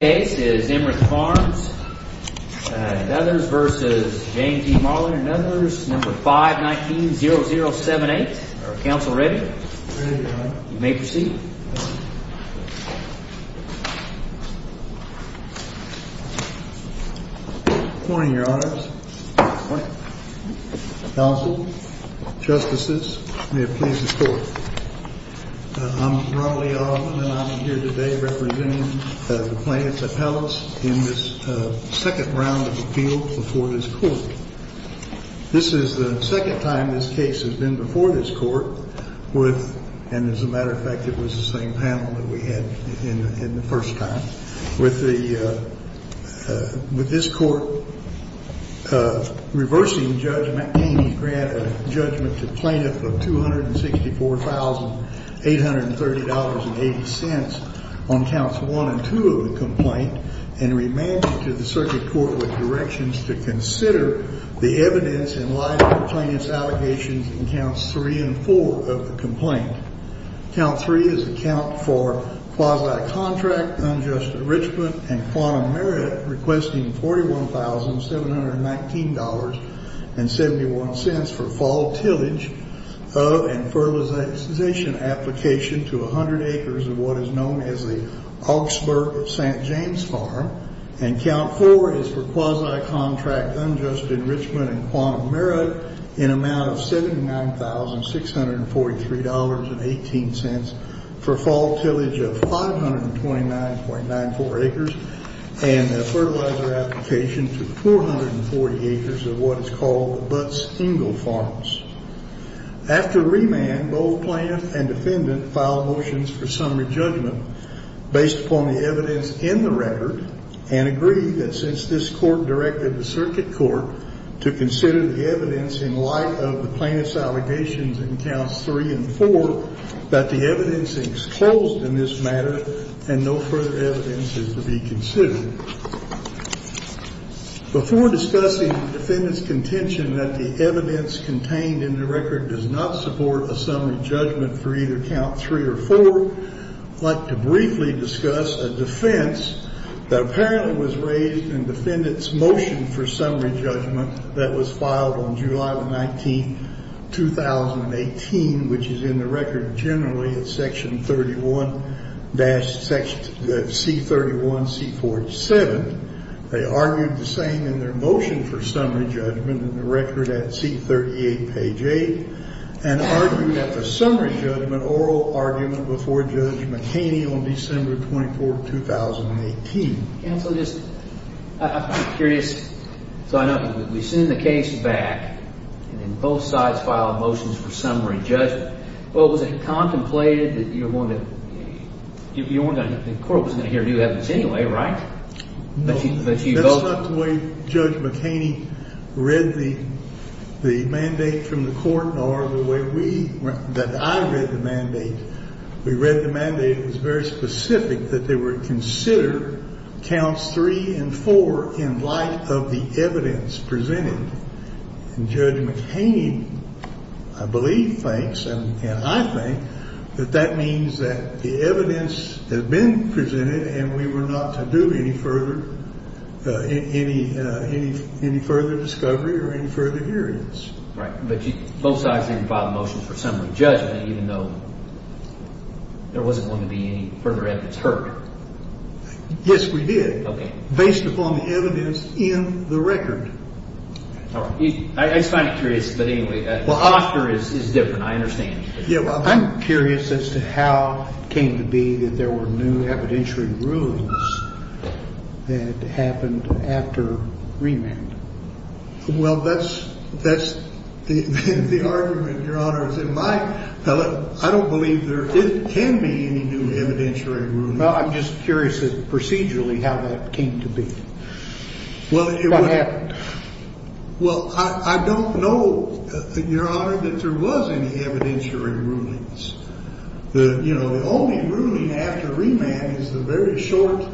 This case is Emmerich Farms, Nethers v. J.T. Marlen, Nethers, number 519-0078, are counsel ready? Ready, your honor. You may proceed. Good morning, your honor. Good morning. Counsel, justices, may it please the court. I'm Ronald E. Arlen, and I'm here today representing the plaintiff's appellants in this second round of appeals before this court. This is the second time this case has been before this court with, and as a matter of fact, it was the same panel that we had in the first time, with this court reversing Judge McCain's judgment to plaintiff of $264,830.80 on counts one and two of the complaint, and remanded to the circuit court with directions to consider the evidence in light of the plaintiff's allegations in counts three and four of the complaint. Count three is a count for quasi-contract unjust enrichment and quantum merit requesting $41,719.71 for fall tillage of and fertilization application to 100 acres of what is known as the Augsburg St. James Farm. And count four is for quasi-contract unjust enrichment and quantum merit in amount of $79,643.18 for fall tillage of 529.94 acres, and a fertilizer application to 440 acres of what is called the Butts Ingle Farms. After remand, both plaintiff and defendant filed motions for summary judgment based upon the evidence in the record, and agreed that since this court directed the circuit court to consider the evidence in light of the plaintiff's allegations in counts three and four, that the evidence is closed in this matter and no further evidence is to be considered. Before discussing the defendant's contention that the evidence contained in the record does not support a summary judgment for either count three or four, I'd like to briefly discuss a defense that apparently was raised in defendant's motion for summary judgment that was filed on July the 19th, 2018, which is in the record generally at section 31, C31, C47. They argued the same in their motion for summary judgment in the record at C38, page 8, and argued that the summary judgment oral argument before Judge McHaney on December 24, 2018. Counsel, just, I'm curious. So I know we send the case back, and then both sides file motions for summary judgment. But was it contemplated that you were going to, the court was going to hear new evidence anyway, right? No, that's not the way Judge McHaney read the mandate from the court or the way we, that I read the mandate. We read the mandate. It was very specific that they were to consider counts three and four in light of the evidence presented. And Judge McHaney, I believe, thinks and I think that that means that the evidence has been presented and we were not to do any further, any further discovery or any further hearings. Right. But both sides didn't file motions for summary judgment even though there wasn't going to be any further evidence heard. Yes, we did. Okay. Based upon the evidence in the record. All right. I just find it curious. But anyway. Well, AFTR is different. I understand. Yeah, well, I'm curious as to how it came to be that there were new evidentiary rulings that happened after remand. Well, that's that's the argument. Your Honor. I don't believe there can be any new evidentiary. Well, I'm just curious procedurally how that came to be. Well, it happened. Well, I don't know, Your Honor, that there was any evidentiary rulings. You know, the only ruling after remand is the very short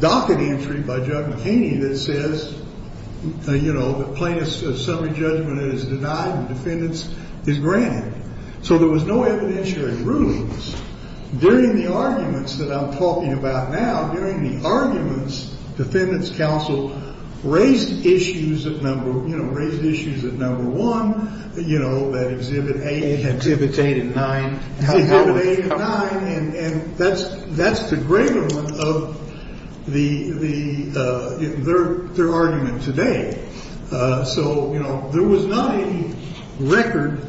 docket entry by Judge McHaney that says, you know, the plaintiff's summary judgment is denied and defendants is granted. So there was no evidentiary rulings. During the arguments that I'm talking about now, during the arguments, counsel raised issues at number one, you know, that exhibit eight. Exhibit eight and nine. Exhibit eight and nine. And that's the greaterment of their argument today. So, you know, there was not any record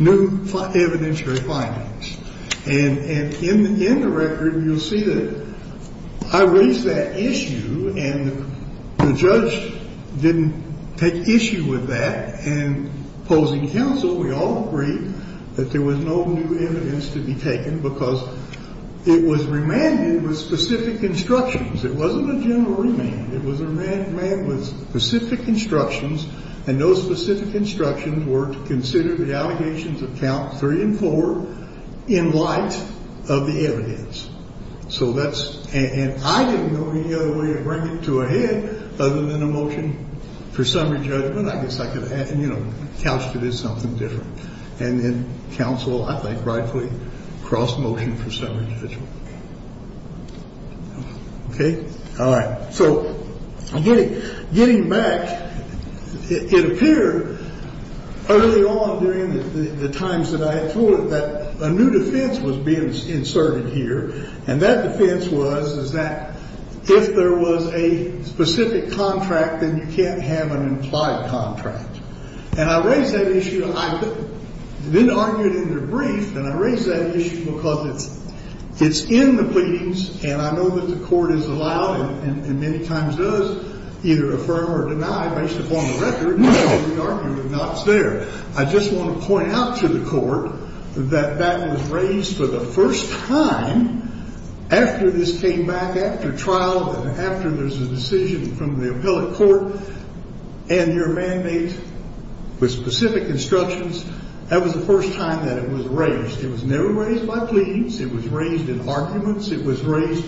new evidentiary findings. And in the record, you'll see that I raised that issue, and the judge didn't take issue with that. And opposing counsel, we all agreed that there was no new evidence to be taken because it was remanded with specific instructions. It wasn't a general remand. It was a remand with specific instructions. And those specific instructions were to consider the allegations of count three and four in light of the evidence. So that's and I didn't know any other way to bring it to a head other than a motion for summary judgment. I guess I could have, you know, couched it as something different. And then counsel, I think, rightfully crossed motion for summary judgment. Okay. All right. So getting back, it appeared early on during the times that I had told it that a new defense was being inserted here. And that defense was, is that if there was a specific contract, then you can't have an implied contract. And I raised that issue. I didn't argue it in the brief. And I raised that issue because it's in the pleadings, and I know that the court has allowed and many times does either affirm or deny based upon the record. And so we argue it's not there. I just want to point out to the court that that was raised for the first time after this came back, after trial, that after there's a decision from the appellate court and your mandate with specific instructions, that was the first time that it was raised. It was never raised by pleadings. It was raised in arguments. It was raised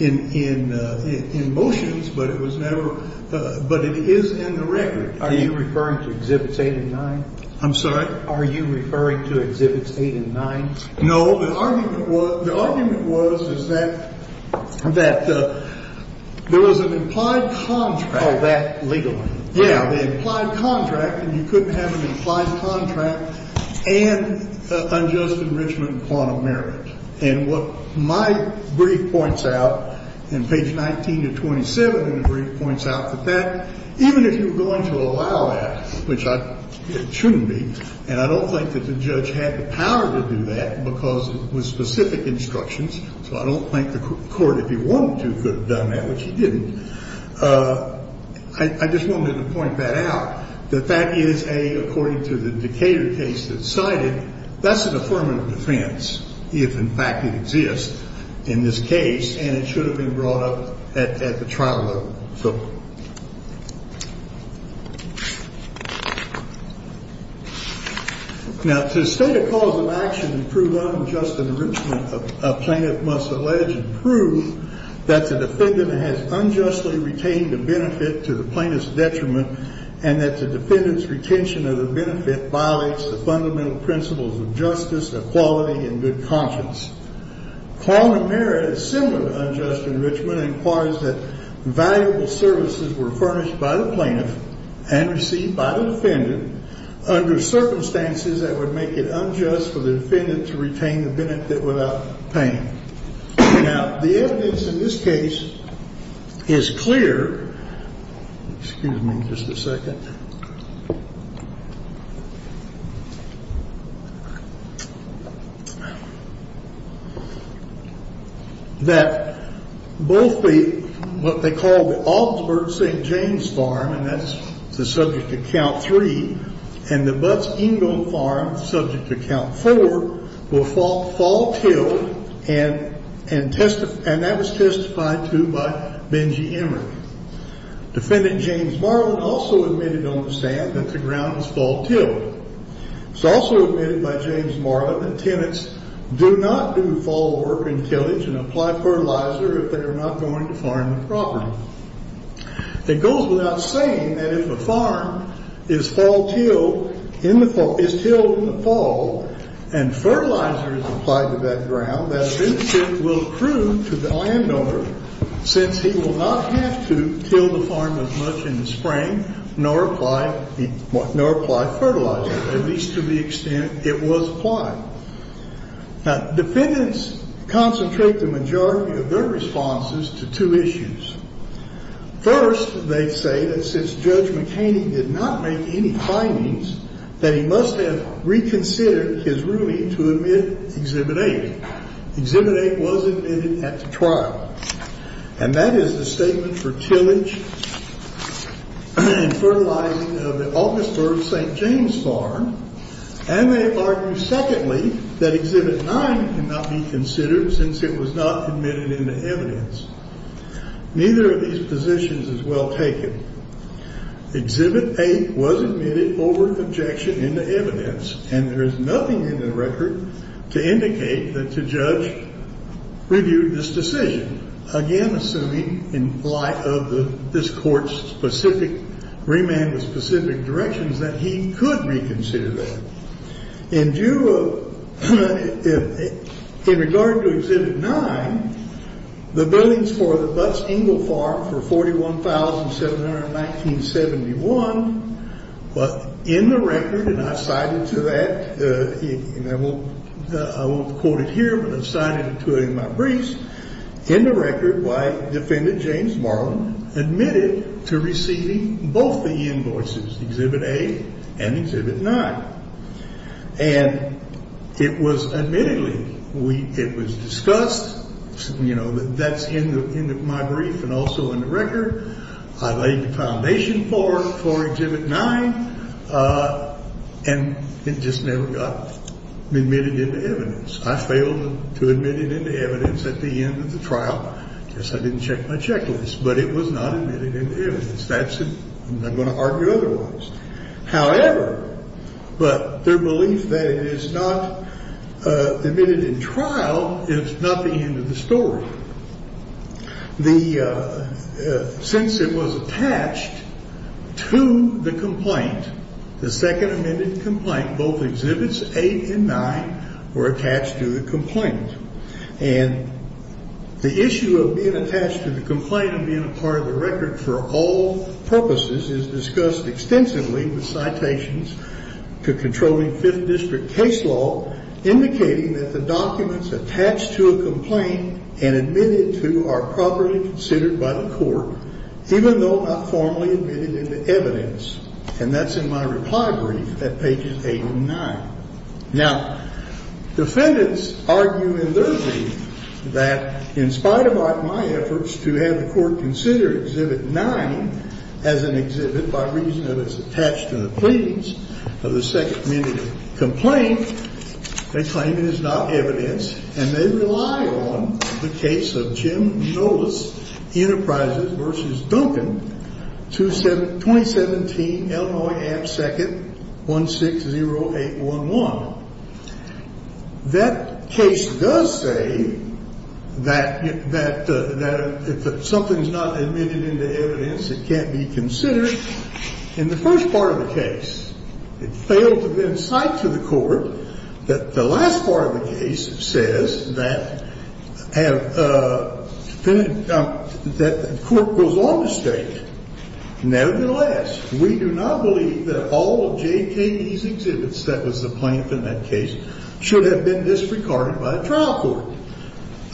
in motions, but it was never, but it is in the record. Are you referring to Exhibits 8 and 9? I'm sorry? Are you referring to Exhibits 8 and 9? No. The argument was, the argument was is that, that there was an implied contract. Oh, that legally. Yeah. The implied contract, and you couldn't have an implied contract and unjust enrichment and quantum merit. And what my brief points out in page 19 to 27 in the brief points out that that, even if you're going to allow that, which it shouldn't be, and I don't think that the judge had the power to do that because it was specific instructions. So I don't think the court, if he wanted to, could have done that, which he didn't. I just wanted to point that out, that that is a, according to the Decatur case that's cited, that's an affirmative defense, if in fact it exists in this case, and it should have been brought up at the trial level. So now to state a cause of action and prove unjust enrichment, a plaintiff must allege and prove that the defendant has unjustly retained the benefit to the plaintiff's detriment and that the defendant's retention of the benefit violates the fundamental principles of justice, equality, and good conscience. Quantum merit is similar to unjust enrichment and inquires that valuable services were furnished by the plaintiff and received by the defendant under circumstances that would make it unjust for the defendant to retain the benefit without paying. Now, the evidence in this case is clear. Excuse me just a second. That both the, what they call the Augsburg St. James Farm, and that's the subject to count three, and the Butts Ingle Farm, subject to count four, will fall tilled, and that was testified to by Benji Emmerich. Defendant James Marlin also admitted on the stand that the ground was fall tilled. It's also admitted by James Marlin that tenants do not do fall work and tillage and apply fertilizer if they are not going to farm the property. It goes without saying that if a farm is fall tilled in the fall, is tilled in the fall, and fertilizer is applied to that ground, that it will prove to the landowner, since he will not have to till the farm as much in the spring, nor apply fertilizer, at least to the extent it was applied. Now, defendants concentrate the majority of their responses to two issues. First, they say that since Judge McHaney did not make any findings, that he must have reconsidered his ruling to admit Exhibit 8. Exhibit 8 was admitted at the trial. And that is the statement for tillage and fertilizing of the Augsburg St. James Farm. And they argue, secondly, that Exhibit 9 cannot be considered since it was not admitted into evidence. Neither of these positions is well taken. Exhibit 8 was admitted over objection into evidence. And there is nothing in the record to indicate that the judge reviewed this decision, assuming in light of this court's specific, remand with specific directions, that he could reconsider that. In view of, in regard to Exhibit 9, the billings for the Butts Ingle Farm for $41,700 in 1971, but in the record, and I cited to that, and I won't quote it here, but I've cited it to it in my briefs. In the record, defendant James Marlin admitted to receiving both the invoices, Exhibit 8 and Exhibit 9. And it was admittedly, it was discussed. You know, that's in my brief and also in the record. I laid the foundation for Exhibit 9, and it just never got admitted into evidence. I failed to admit it into evidence at the end of the trial. I guess I didn't check my checklist, but it was not admitted into evidence. That's it. I'm not going to argue otherwise. However, but their belief that it is not admitted in trial is not the end of the story. The, since it was attached to the complaint, the second amended complaint, both Exhibits 8 and 9 were attached to the complaint. And the issue of being attached to the complaint and being a part of the record for all purposes is discussed extensively with citations to controlling Fifth District case law, indicating that the documents attached to a complaint and admitted to are properly considered by the court, even though not formally admitted into evidence. And that's in my reply brief at pages 8 and 9. Now, defendants argue in their brief that in spite of my efforts to have the court consider Exhibit 9 as an exhibit by reason that it's attached to the pleadings of the second amended complaint, they claim it is not evidence, and they rely on the case of Jim Nolas, Enterprises v. Duncan, 2017, Illinois, Amt 2nd, 160811. That case does say that if something's not admitted into evidence, it can't be considered in the first part of the case. It failed to give insight to the court that the last part of the case says that have, that the court goes on the stage. Nevertheless, we do not believe that all of J.K.E.'s exhibits, that was the plaintiff in that case, should have been disregarded by a trial court.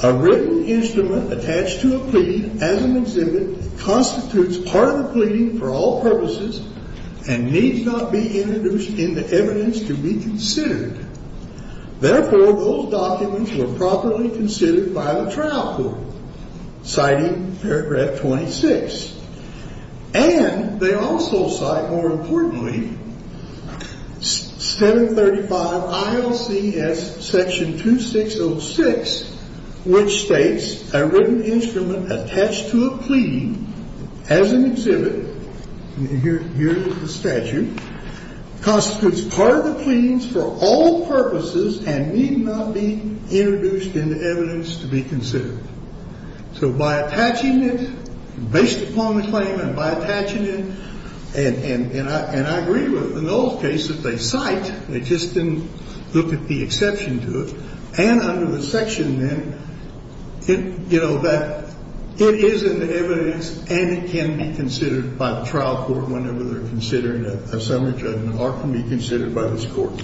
A written instrument attached to a plea as an exhibit constitutes part of the pleading for all purposes and needs not be introduced into evidence to be considered. Therefore, those documents were properly considered by the trial court, citing paragraph 26. And they also cite, more importantly, 735 ILCS section 2606, which states a written instrument attached to a plea as an exhibit, and here is the statute, constitutes part of the pleadings for all purposes and need not be introduced into evidence to be considered. So by attaching it, based upon the claim, and by attaching it, and I agree with, in those cases, they cite, they just didn't look at the exception to it. And under the section then, you know, that it is in the evidence and it can be considered by the trial court whenever they're considering a summary judgment or it can be considered by this court.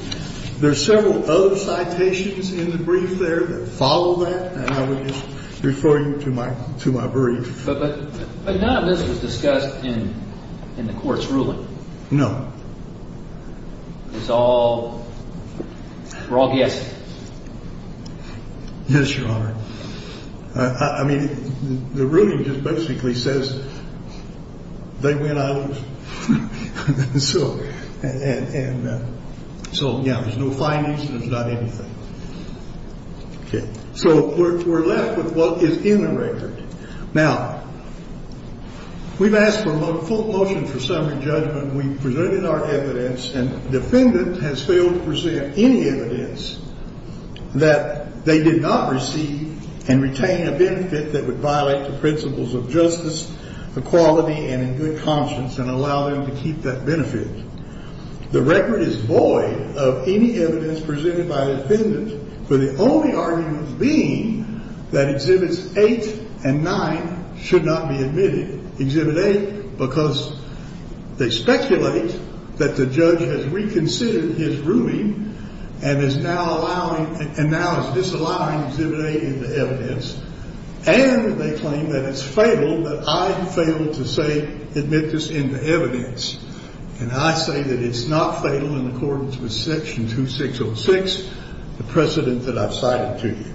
There are several other citations in the brief there that follow that, and I would just refer you to my brief. But none of this was discussed in the court's ruling? No. It's all raw guessing? Yes, Your Honor. I mean, the ruling just basically says they win, I lose. So, yeah, there's no findings and there's not anything. Okay. So we're left with what is in the record. Now, we've asked for a full motion for summary judgment. We've presented our evidence, and the defendant has failed to present any evidence that they did not receive and retain a benefit that would violate the principles of justice, equality, and a good conscience and allow them to keep that benefit. The record is void of any evidence presented by the defendant, for the only argument being that Exhibits 8 and 9 should not be admitted. Exhibit 8, because they speculate that the judge has reconsidered his ruling and is now allowing, and now is disallowing Exhibit 8 into evidence. And they claim that it's fatal, but I have failed to say, admit this into evidence. And I say that it's not fatal in accordance with Section 2606, the precedent that I've cited to you.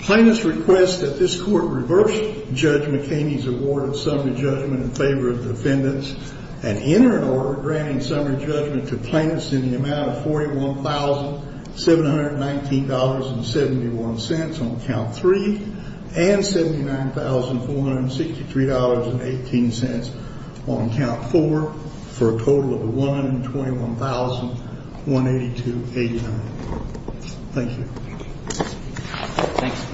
Plaintiffs request that this Court reverse Judge McHaney's award of summary judgment in favor of the defendants and enter an order granting summary judgment to plaintiffs in the amount of $41,719.71 on count 3 and $79,463.18 on count 4 for a total of $121,182.89. Thank you. Thanks.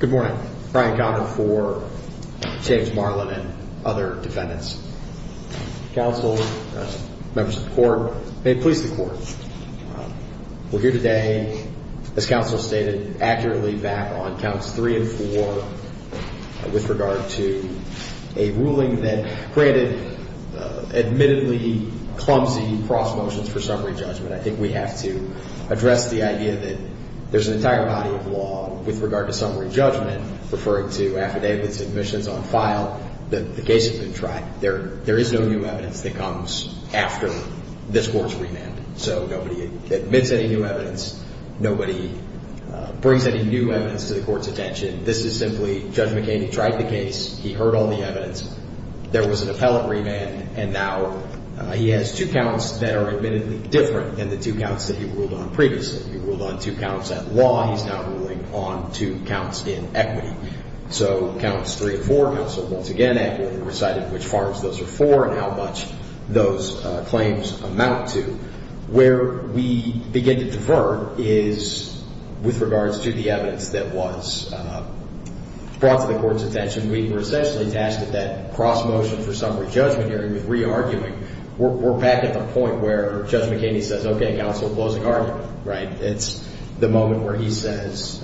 Good morning. Brian Conner for James Marlin and other defendants. Counsel, members of the Court, may it please the Court, we're here today, as counsel stated, accurately back on counts 3 and 4 with regard to a ruling that created admittedly clumsy cross motions for summary judgment. I think we have to address the idea that there's an entire body of law with regard to summary judgment, referring to affidavits, admissions on file, that the case has been tracked. There is no new evidence that comes after this Court's remand. So nobody admits any new evidence. Nobody brings any new evidence to the Court's attention. This is simply Judge McHaney tried the case. He heard all the evidence. There was an appellate remand, and now he has two counts that are admittedly different than the two counts that he ruled on previously. He ruled on two counts at law. He's now ruling on two counts in equity. So counts 3 and 4, counsel, once again accurately recited which farms those are for and how much those claims amount to. Where we begin to differ is with regards to the evidence that was brought to the Court's attention. We were essentially tasked at that cross motion for summary judgment hearing with re-arguing. We're back at the point where Judge McHaney says, okay, counsel, closing argument, right? It's the moment where he says,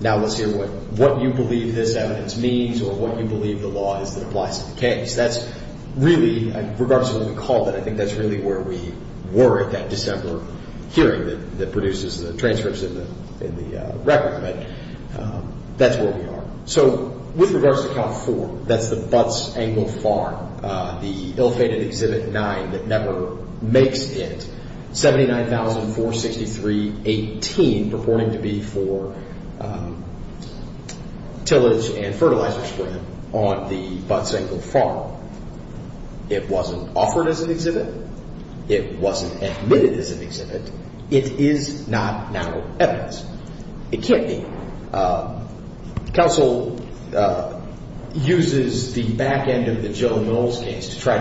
now let's hear what you believe this evidence means or what you believe the law is that applies to the case. That's really, regardless of what we call it, I think that's really where we were at that December hearing that produces the transcripts in the record. That's where we are. So with regards to count 4, that's the Butts Angle Farm, the ill-fated Exhibit 9 that never makes it, 79,463.18, purporting to be for tillage and fertilizer spread on the Butts Angle Farm. It wasn't offered as an exhibit. It wasn't admitted as an exhibit. It is not now evidence. It can't be. Counsel uses the back end of the Jill Knowles case to try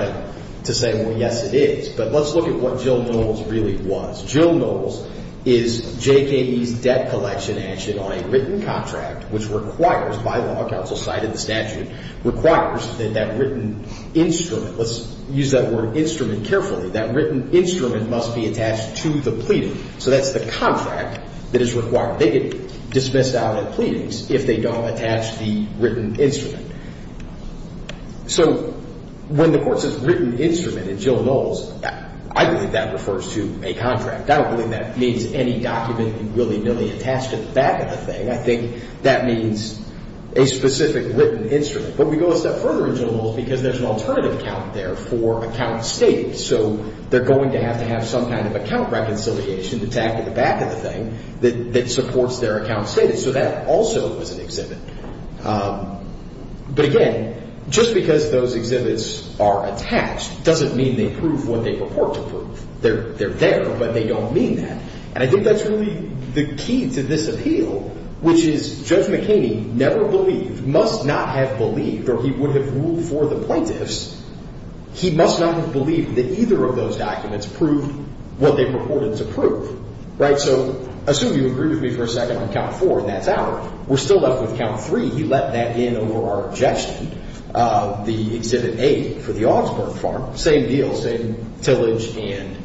to say, well, yes, it is. But let's look at what Jill Knowles really was. Jill Knowles is JKE's debt collection action on a written contract which requires, by law, counsel cited the statute, requires that that written instrument, let's use that word instrument carefully, that written instrument must be attached to the pleading. So that's the contract that is required. They get dismissed out of pleadings if they don't attach the written instrument. So when the court says written instrument in Jill Knowles, I believe that refers to a contract. I don't believe that means any document willy-nilly attached to the back of the thing. I think that means a specific written instrument. But we go a step further in Jill Knowles because there's an alternative account there for account stating. So they're going to have to have some kind of account reconciliation, the tag at the back of the thing, that supports their account stating. So that also is an exhibit. But, again, just because those exhibits are attached doesn't mean they prove what they purport to prove. They're there, but they don't mean that. And I think that's really the key to this appeal, which is Judge McKinney never believed, must not have believed, or he would have ruled for the plaintiffs, he must not have believed that either of those documents proved what they purported to prove. Right? So assume you agree with me for a second on count four and that's out. We're still left with count three. He let that in over our objection of the exhibit eight for the Augsburg farm. Same deal, same tillage and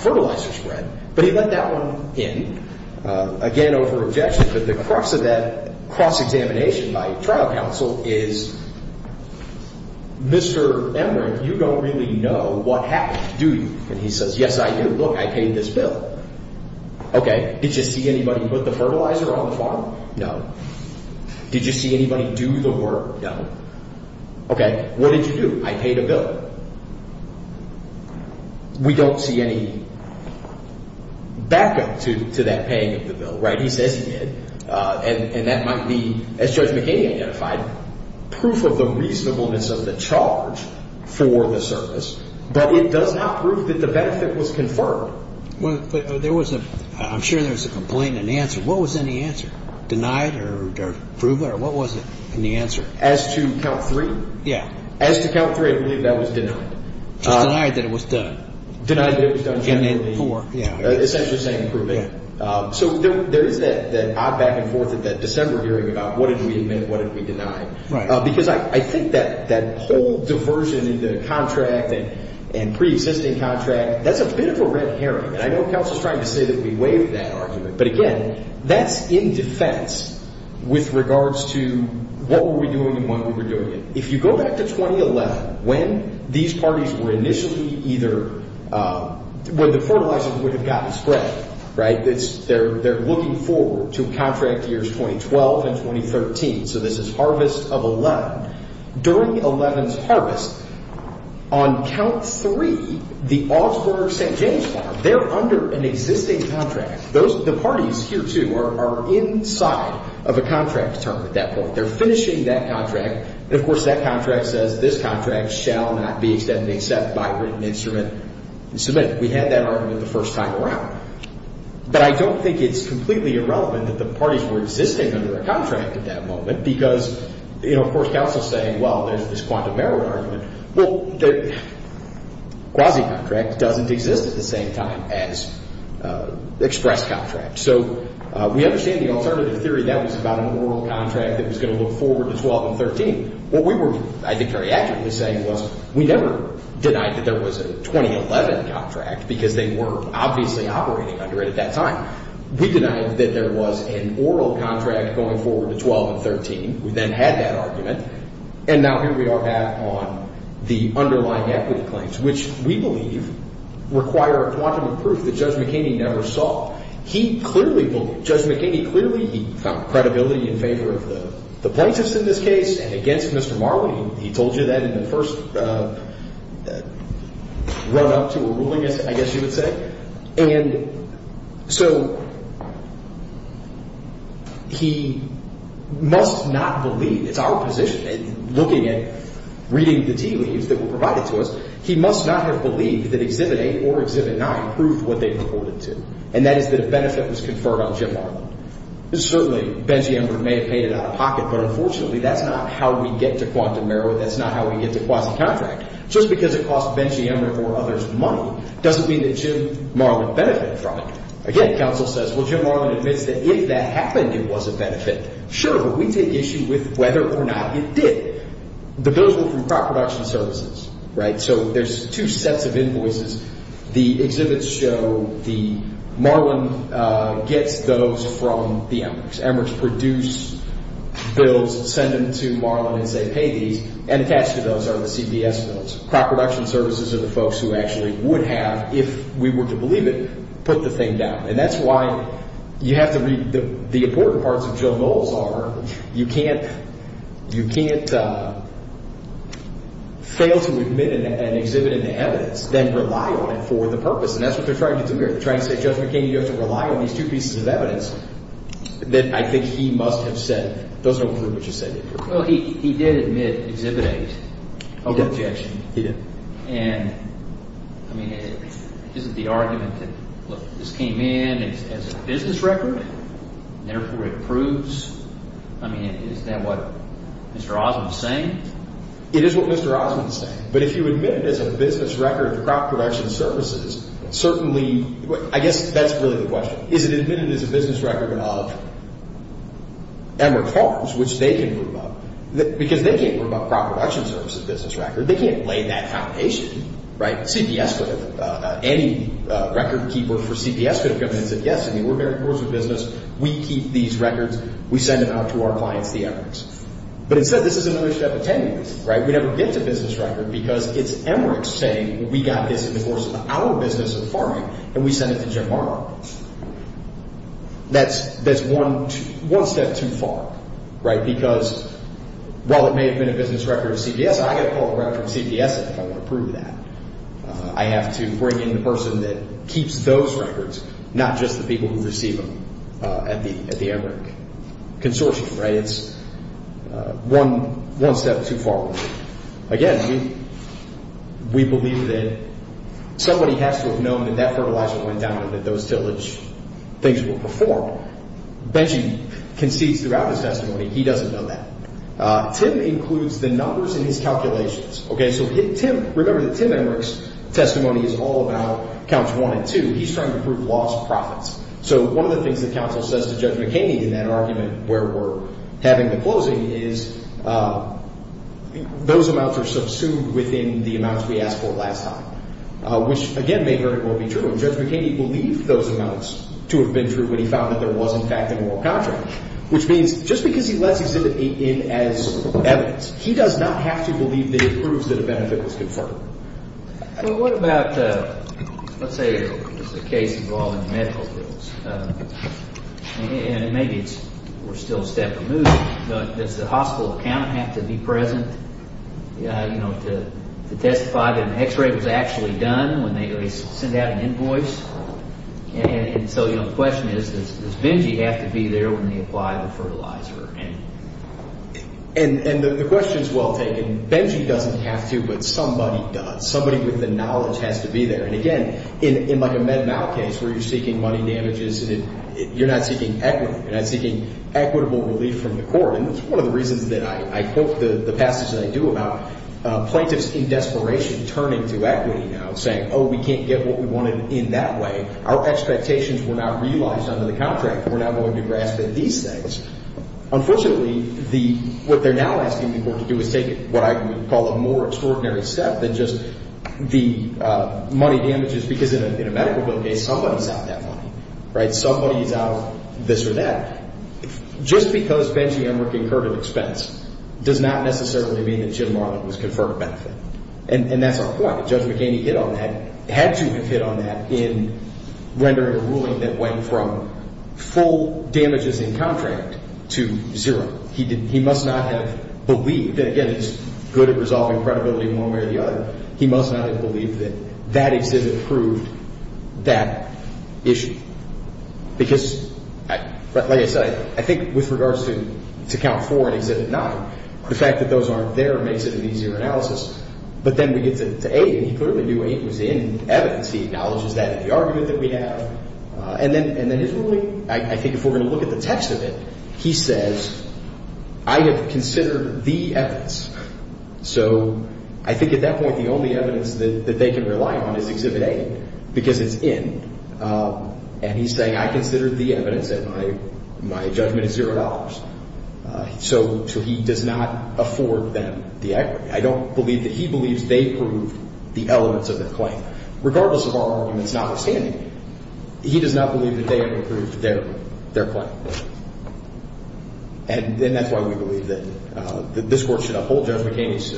fertilizer spread. But he let that one in, again, over objection. But the crux of that cross-examination by trial counsel is Mr. Emmerich, you don't really know what happened, do you? And he says, yes, I do. Look, I paid this bill. Okay. Did you see anybody put the fertilizer on the farm? No. Did you see anybody do the work? No. Okay. What did you do? I paid a bill. We don't see any backup to that paying of the bill. Right. He says he did. And that might be, as Judge McHaney identified, proof of the reasonableness of the charge for the service. But it does not prove that the benefit was confirmed. Well, there was a ‑‑ I'm sure there was a complaint and answer. What was in the answer? Denied or approval or what was it in the answer? As to count three? Yeah. As to count three, I believe that was denied. Just denied that it was done. Denied that it was done generally. And then four, yeah. Essentially the same approving. Yeah. So there is that odd back and forth at that December hearing about what did we admit and what did we deny. Right. Because I think that whole diversion in the contract and preexisting contract, that's a bit of a red herring. And I know counsel is trying to say that we waived that argument. But, again, that's in defense with regards to what were we doing and when we were doing it. If you go back to 2011, when these parties were initially either ‑‑ when the fertilizer would have gotten spread, right, they're looking forward to contract years 2012 and 2013. So this is harvest of 11. During 11's harvest, on count three, the Augsburg St. James farm, they're under an existing contract. The parties here, too, are inside of a contract term at that point. They're finishing that contract. And, of course, that contract says this contract shall not be extended except by written instrument and submission. We had that argument the first time around. But I don't think it's completely irrelevant that the parties were existing under a contract at that moment because, you know, of course counsel is saying, well, there's this quantum error argument. Well, the quasi‑contract doesn't exist at the same time as express contract. So we understand the alternative theory that was about an oral contract that was going to look forward to 12 and 13. What we were, I think, very accurately saying was we never denied that there was a 2011 contract because they were obviously operating under it at that time. We denied that there was an oral contract going forward to 12 and 13. We then had that argument. And now here we are back on the underlying equity claims, which we believe require a quantum of proof that Judge McKinney never saw. He clearly believed, Judge McKinney clearly, he found credibility in favor of the plaintiffs in this case and against Mr. Marley. He told you that in the first run‑up to a ruling, I guess you would say. And so he must not believe, it's our position, looking at reading the tea leaves that were provided to us, he must not have believed that Exhibit A or Exhibit 9 proved what they reported to. And that is that a benefit was conferred on Jim Marlin. Certainly, Benji Emmer may have paid it out of pocket, but unfortunately, that's not how we get to quantum merit. That's not how we get to quasi‑contract. Just because it cost Benji Emmer or others money doesn't mean that Jim Marlin benefited from it. Again, counsel says, well, Jim Marlin admits that if that happened, it was a benefit. Sure, but we take issue with whether or not it did. But those were from crop production services, right? So there's two sets of invoices. The exhibits show the ‑‑ Marlin gets those from the Emmers. Emmers produce bills, send them to Marlin and say, pay these, and attached to those are the CBS bills. Crop production services are the folks who actually would have, if we were to believe it, put the thing down. And that's why you have to ‑‑ the important parts of Joe Goals are you can't fail to admit an exhibit in the evidence than rely on it for the purpose. And that's what they're trying to do here. They're trying to say, Judge McKinney, you have to rely on these two pieces of evidence that I think he must have said doesn't include what you said. Well, he did admit exhibit eight of objection. He did. And, I mean, isn't the argument that, look, this came in as a business record and therefore it proves ‑‑ I mean, is that what Mr. Osmond is saying? It is what Mr. Osmond is saying. But if you admit it as a business record to crop production services, certainly ‑‑ I guess that's really the question. Is it admitted as a business record of Emmer Farms, which they can prove up? Because they can't prove a crop production services business record. They can't lay that out patiently. Right? CBS could have ‑‑ any record keeper for CBS could have come in and said, yes, I mean, we're very close with business. We keep these records. We send them out to our clients, the Emmers. But, instead, this is an issue of attendance. Right? We never get to business record because it's Emmer saying, well, we got this in the course of our business of farming, and we sent it to Jim Morrow. That's one step too far. Right? Because while it may have been a business record of CBS, I got to pull the record from CBS if I want to prove that. I have to bring in the person that keeps those records, not just the people who receive them at the Emmer consortium. Right? It's one step too far. Again, we believe that somebody has to have known that that fertilizer went down and that those tillage things were performed. Benji concedes throughout his testimony he doesn't know that. Tim includes the numbers in his calculations. Okay? So, Tim, remember that Tim Emmer's testimony is all about counts one and two. He's trying to prove lost profits. So, one of the things that counsel says to Judge McHaney in that argument where we're having the closing is those amounts are subsumed within the amounts we asked for last time, which, again, may or may not be true. And Judge McHaney believed those amounts to have been true when he found that there was, in fact, a moral contract, which means just because he lets these in as evidence, he does not have to believe that he proves that a benefit was confirmed. Well, what about, let's say there's a case involving medical bills, and maybe we're still a step removed, but does the hospital account have to be present, you know, to testify that an x-ray was actually done when they send out an invoice? And so, you know, the question is, does Benji have to be there when they apply the fertilizer? And the question is well taken. Benji doesn't have to, but somebody does. Somebody with the knowledge has to be there. And, again, in like a MedMal case where you're seeking money damages, you're not seeking equity. You're not seeking equitable relief from the court. And this is one of the reasons that I quote the passage that I do about plaintiffs in desperation turning to equity now and saying, oh, we can't get what we wanted in that way. Our expectations were not realized under the contract. We're not going to grasp at these things. Unfortunately, what they're now asking people to do is take what I would call a more extraordinary step than just the money damages, because in a medical bill case, somebody's out that money. Right? Somebody's out this or that. Just because Benji Emmer concurred an expense does not necessarily mean that Jim Marlin was conferred a benefit. And that's our point. had to have hit on that in rendering a ruling that went from full damages in contract to zero. He must not have believed, and, again, he's good at resolving credibility one way or the other. He must not have believed that that exhibit proved that issue. Because, like I said, I think with regards to count four and exhibit nine, the fact that those aren't there makes it an easier analysis. But then we get to A, and he clearly knew A was in evidence. He acknowledges that in the argument that we have. And then his ruling, I think if we're going to look at the text of it, he says, I have considered the evidence. So I think at that point the only evidence that they can rely on is exhibit A, because it's in. And he's saying I considered the evidence and my judgment is zero dollars. So he does not afford them the equity. I don't believe that he believes they proved the elements of their claim. Regardless of our arguments notwithstanding, he does not believe that they have approved their claim. And that's why we believe that this Court should uphold Judge McHaney's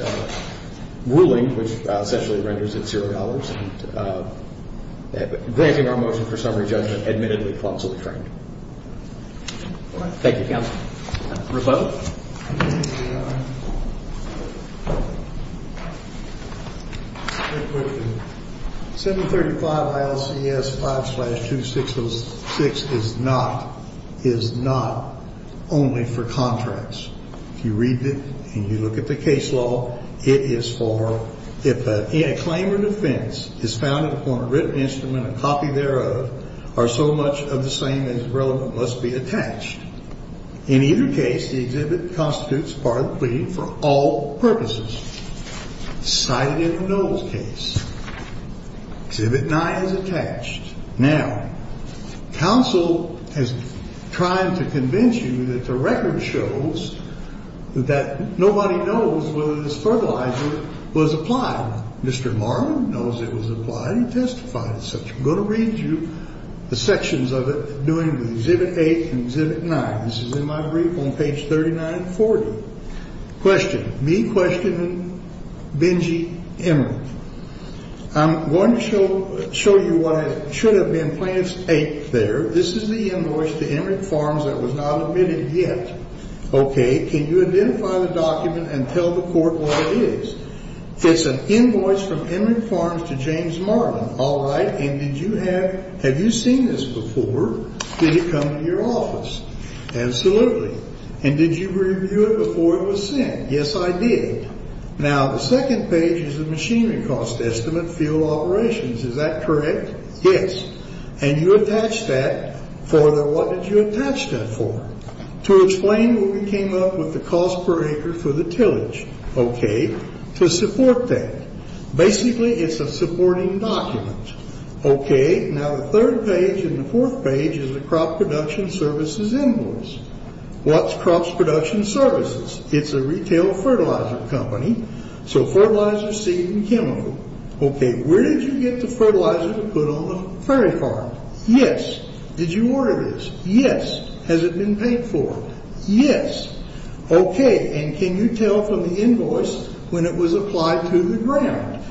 ruling, which essentially renders it zero dollars. And granting our motion for summary judgment admittedly clumsily framed. Thank you, Counsel. Rebel? 735 ILCS 5-266 is not only for contracts. If you read it and you look at the case law, it is for if a claim or defense is founded upon a written instrument, and a copy thereof are so much of the same as relevant, must be attached. In either case, the exhibit constitutes part of the claim for all purposes. Cited in the Knowles case. Exhibit 9 is attached. Now, Counsel has tried to convince you that the record shows that nobody knows whether this fertilizer was applied. Mr. Marlin knows it was applied. He testified as such. I'm going to read you the sections of it, doing exhibit 8 and exhibit 9. This is in my brief on page 3940. Question. Me questioning Benji Emmerich. I'm going to show you what it should have been. Plaintiff's tape there. This is the invoice to Emmerich Farms that was not admitted yet. Okay. Can you identify the document and tell the Court what it is? It's an invoice from Emmerich Farms to James Marlin. All right. And did you have you seen this before? Did it come to your office? Absolutely. And did you review it before it was sent? Yes, I did. Now, the second page is the machinery cost estimate, field operations. Is that correct? Yes. And you attached that. Further, what did you attach that for? To explain what we came up with, the cost per acre for the tillage. Okay. To support that. Basically, it's a supporting document. Okay. Now, the third page and the fourth page is the crop production services invoice. What's Crops Production Services? It's a retail fertilizer company, so fertilizer, seed, and chemical. Okay. Where did you get the fertilizer to put on the prairie farm? Yes. Did you order this? Yes. Has it been paid for? Yes. Okay. And can you tell from the invoice when it was applied to the ground?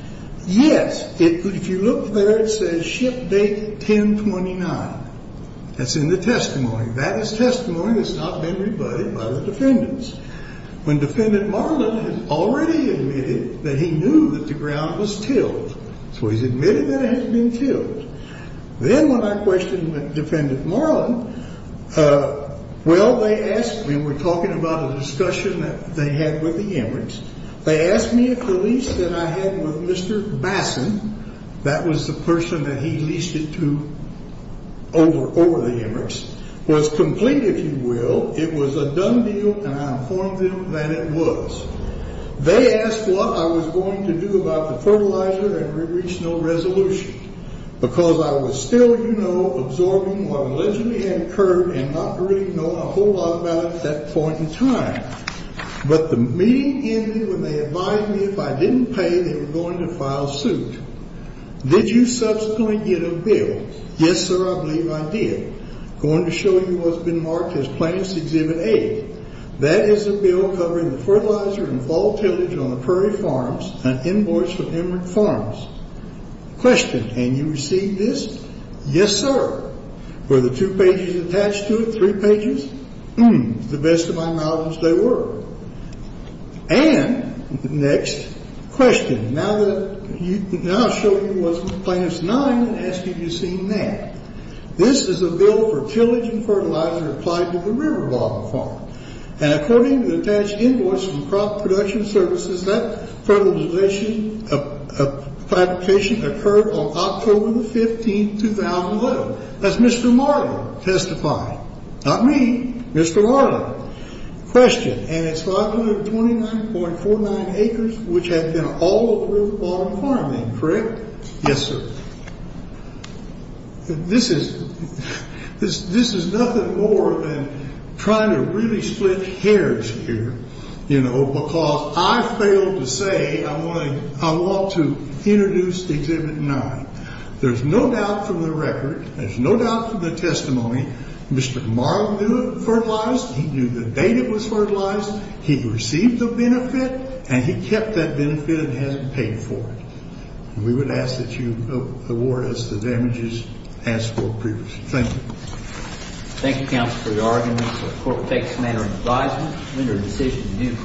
Yes. If you look there, it says ship date 1029. That's in the testimony. That is testimony that's not been rebutted by the defendants. When Defendant Marlin had already admitted that he knew that the ground was tilled, so he's admitted that it had been tilled. Then when I questioned Defendant Marlin, well, they asked me. We were talking about a discussion that they had with the Emirates. They asked me if the lease that I had with Mr. Bassan, that was the person that he leased it to over the Emirates, was complete, if you will. It was a done deal, and I informed them that it was. They asked what I was going to do about the fertilizer and reached no resolution because I was still, you know, absorbing what allegedly had occurred and not really know a whole lot about it at that point in time. But the meeting ended when they advised me if I didn't pay, they were going to file suit. Did you subsequently get a bill? Yes, sir, I believe I did. I'm going to show you what's been marked as Plants Exhibit A. That is a bill covering the fertilizer and fall tillage on the Prairie Farms, an invoice from Emory Farms. Question, can you receive this? Yes, sir. Were the two pages attached to it, three pages? The best of my knowledge they were. And, next question, now that I've shown you what's in Plants 9, I ask that you be seen now. This is a bill for tillage and fertilizer applied to the Riverbottom Farm. And according to the attached invoice from Crop Production Services, that fertilization application occurred on October the 15th, 2011. Does Mr. Marlin testify? Not me. Mr. Marlin. Question, and it's 529.49 acres which had been all over the Riverbottom Farm then, correct? Yes, sir. This is nothing more than trying to really split hairs here, you know, because I failed to say I want to introduce Exhibit 9. There's no doubt from the record, there's no doubt from the testimony, Mr. Marlin knew it was fertilized. He knew the date it was fertilized. He received the benefit and he kept that benefit and hasn't paid for it. We would ask that you award us the damages as for previously. Thank you. Thank you, Counselor Yargen. The court takes manner and advisement to render the decision in uniform.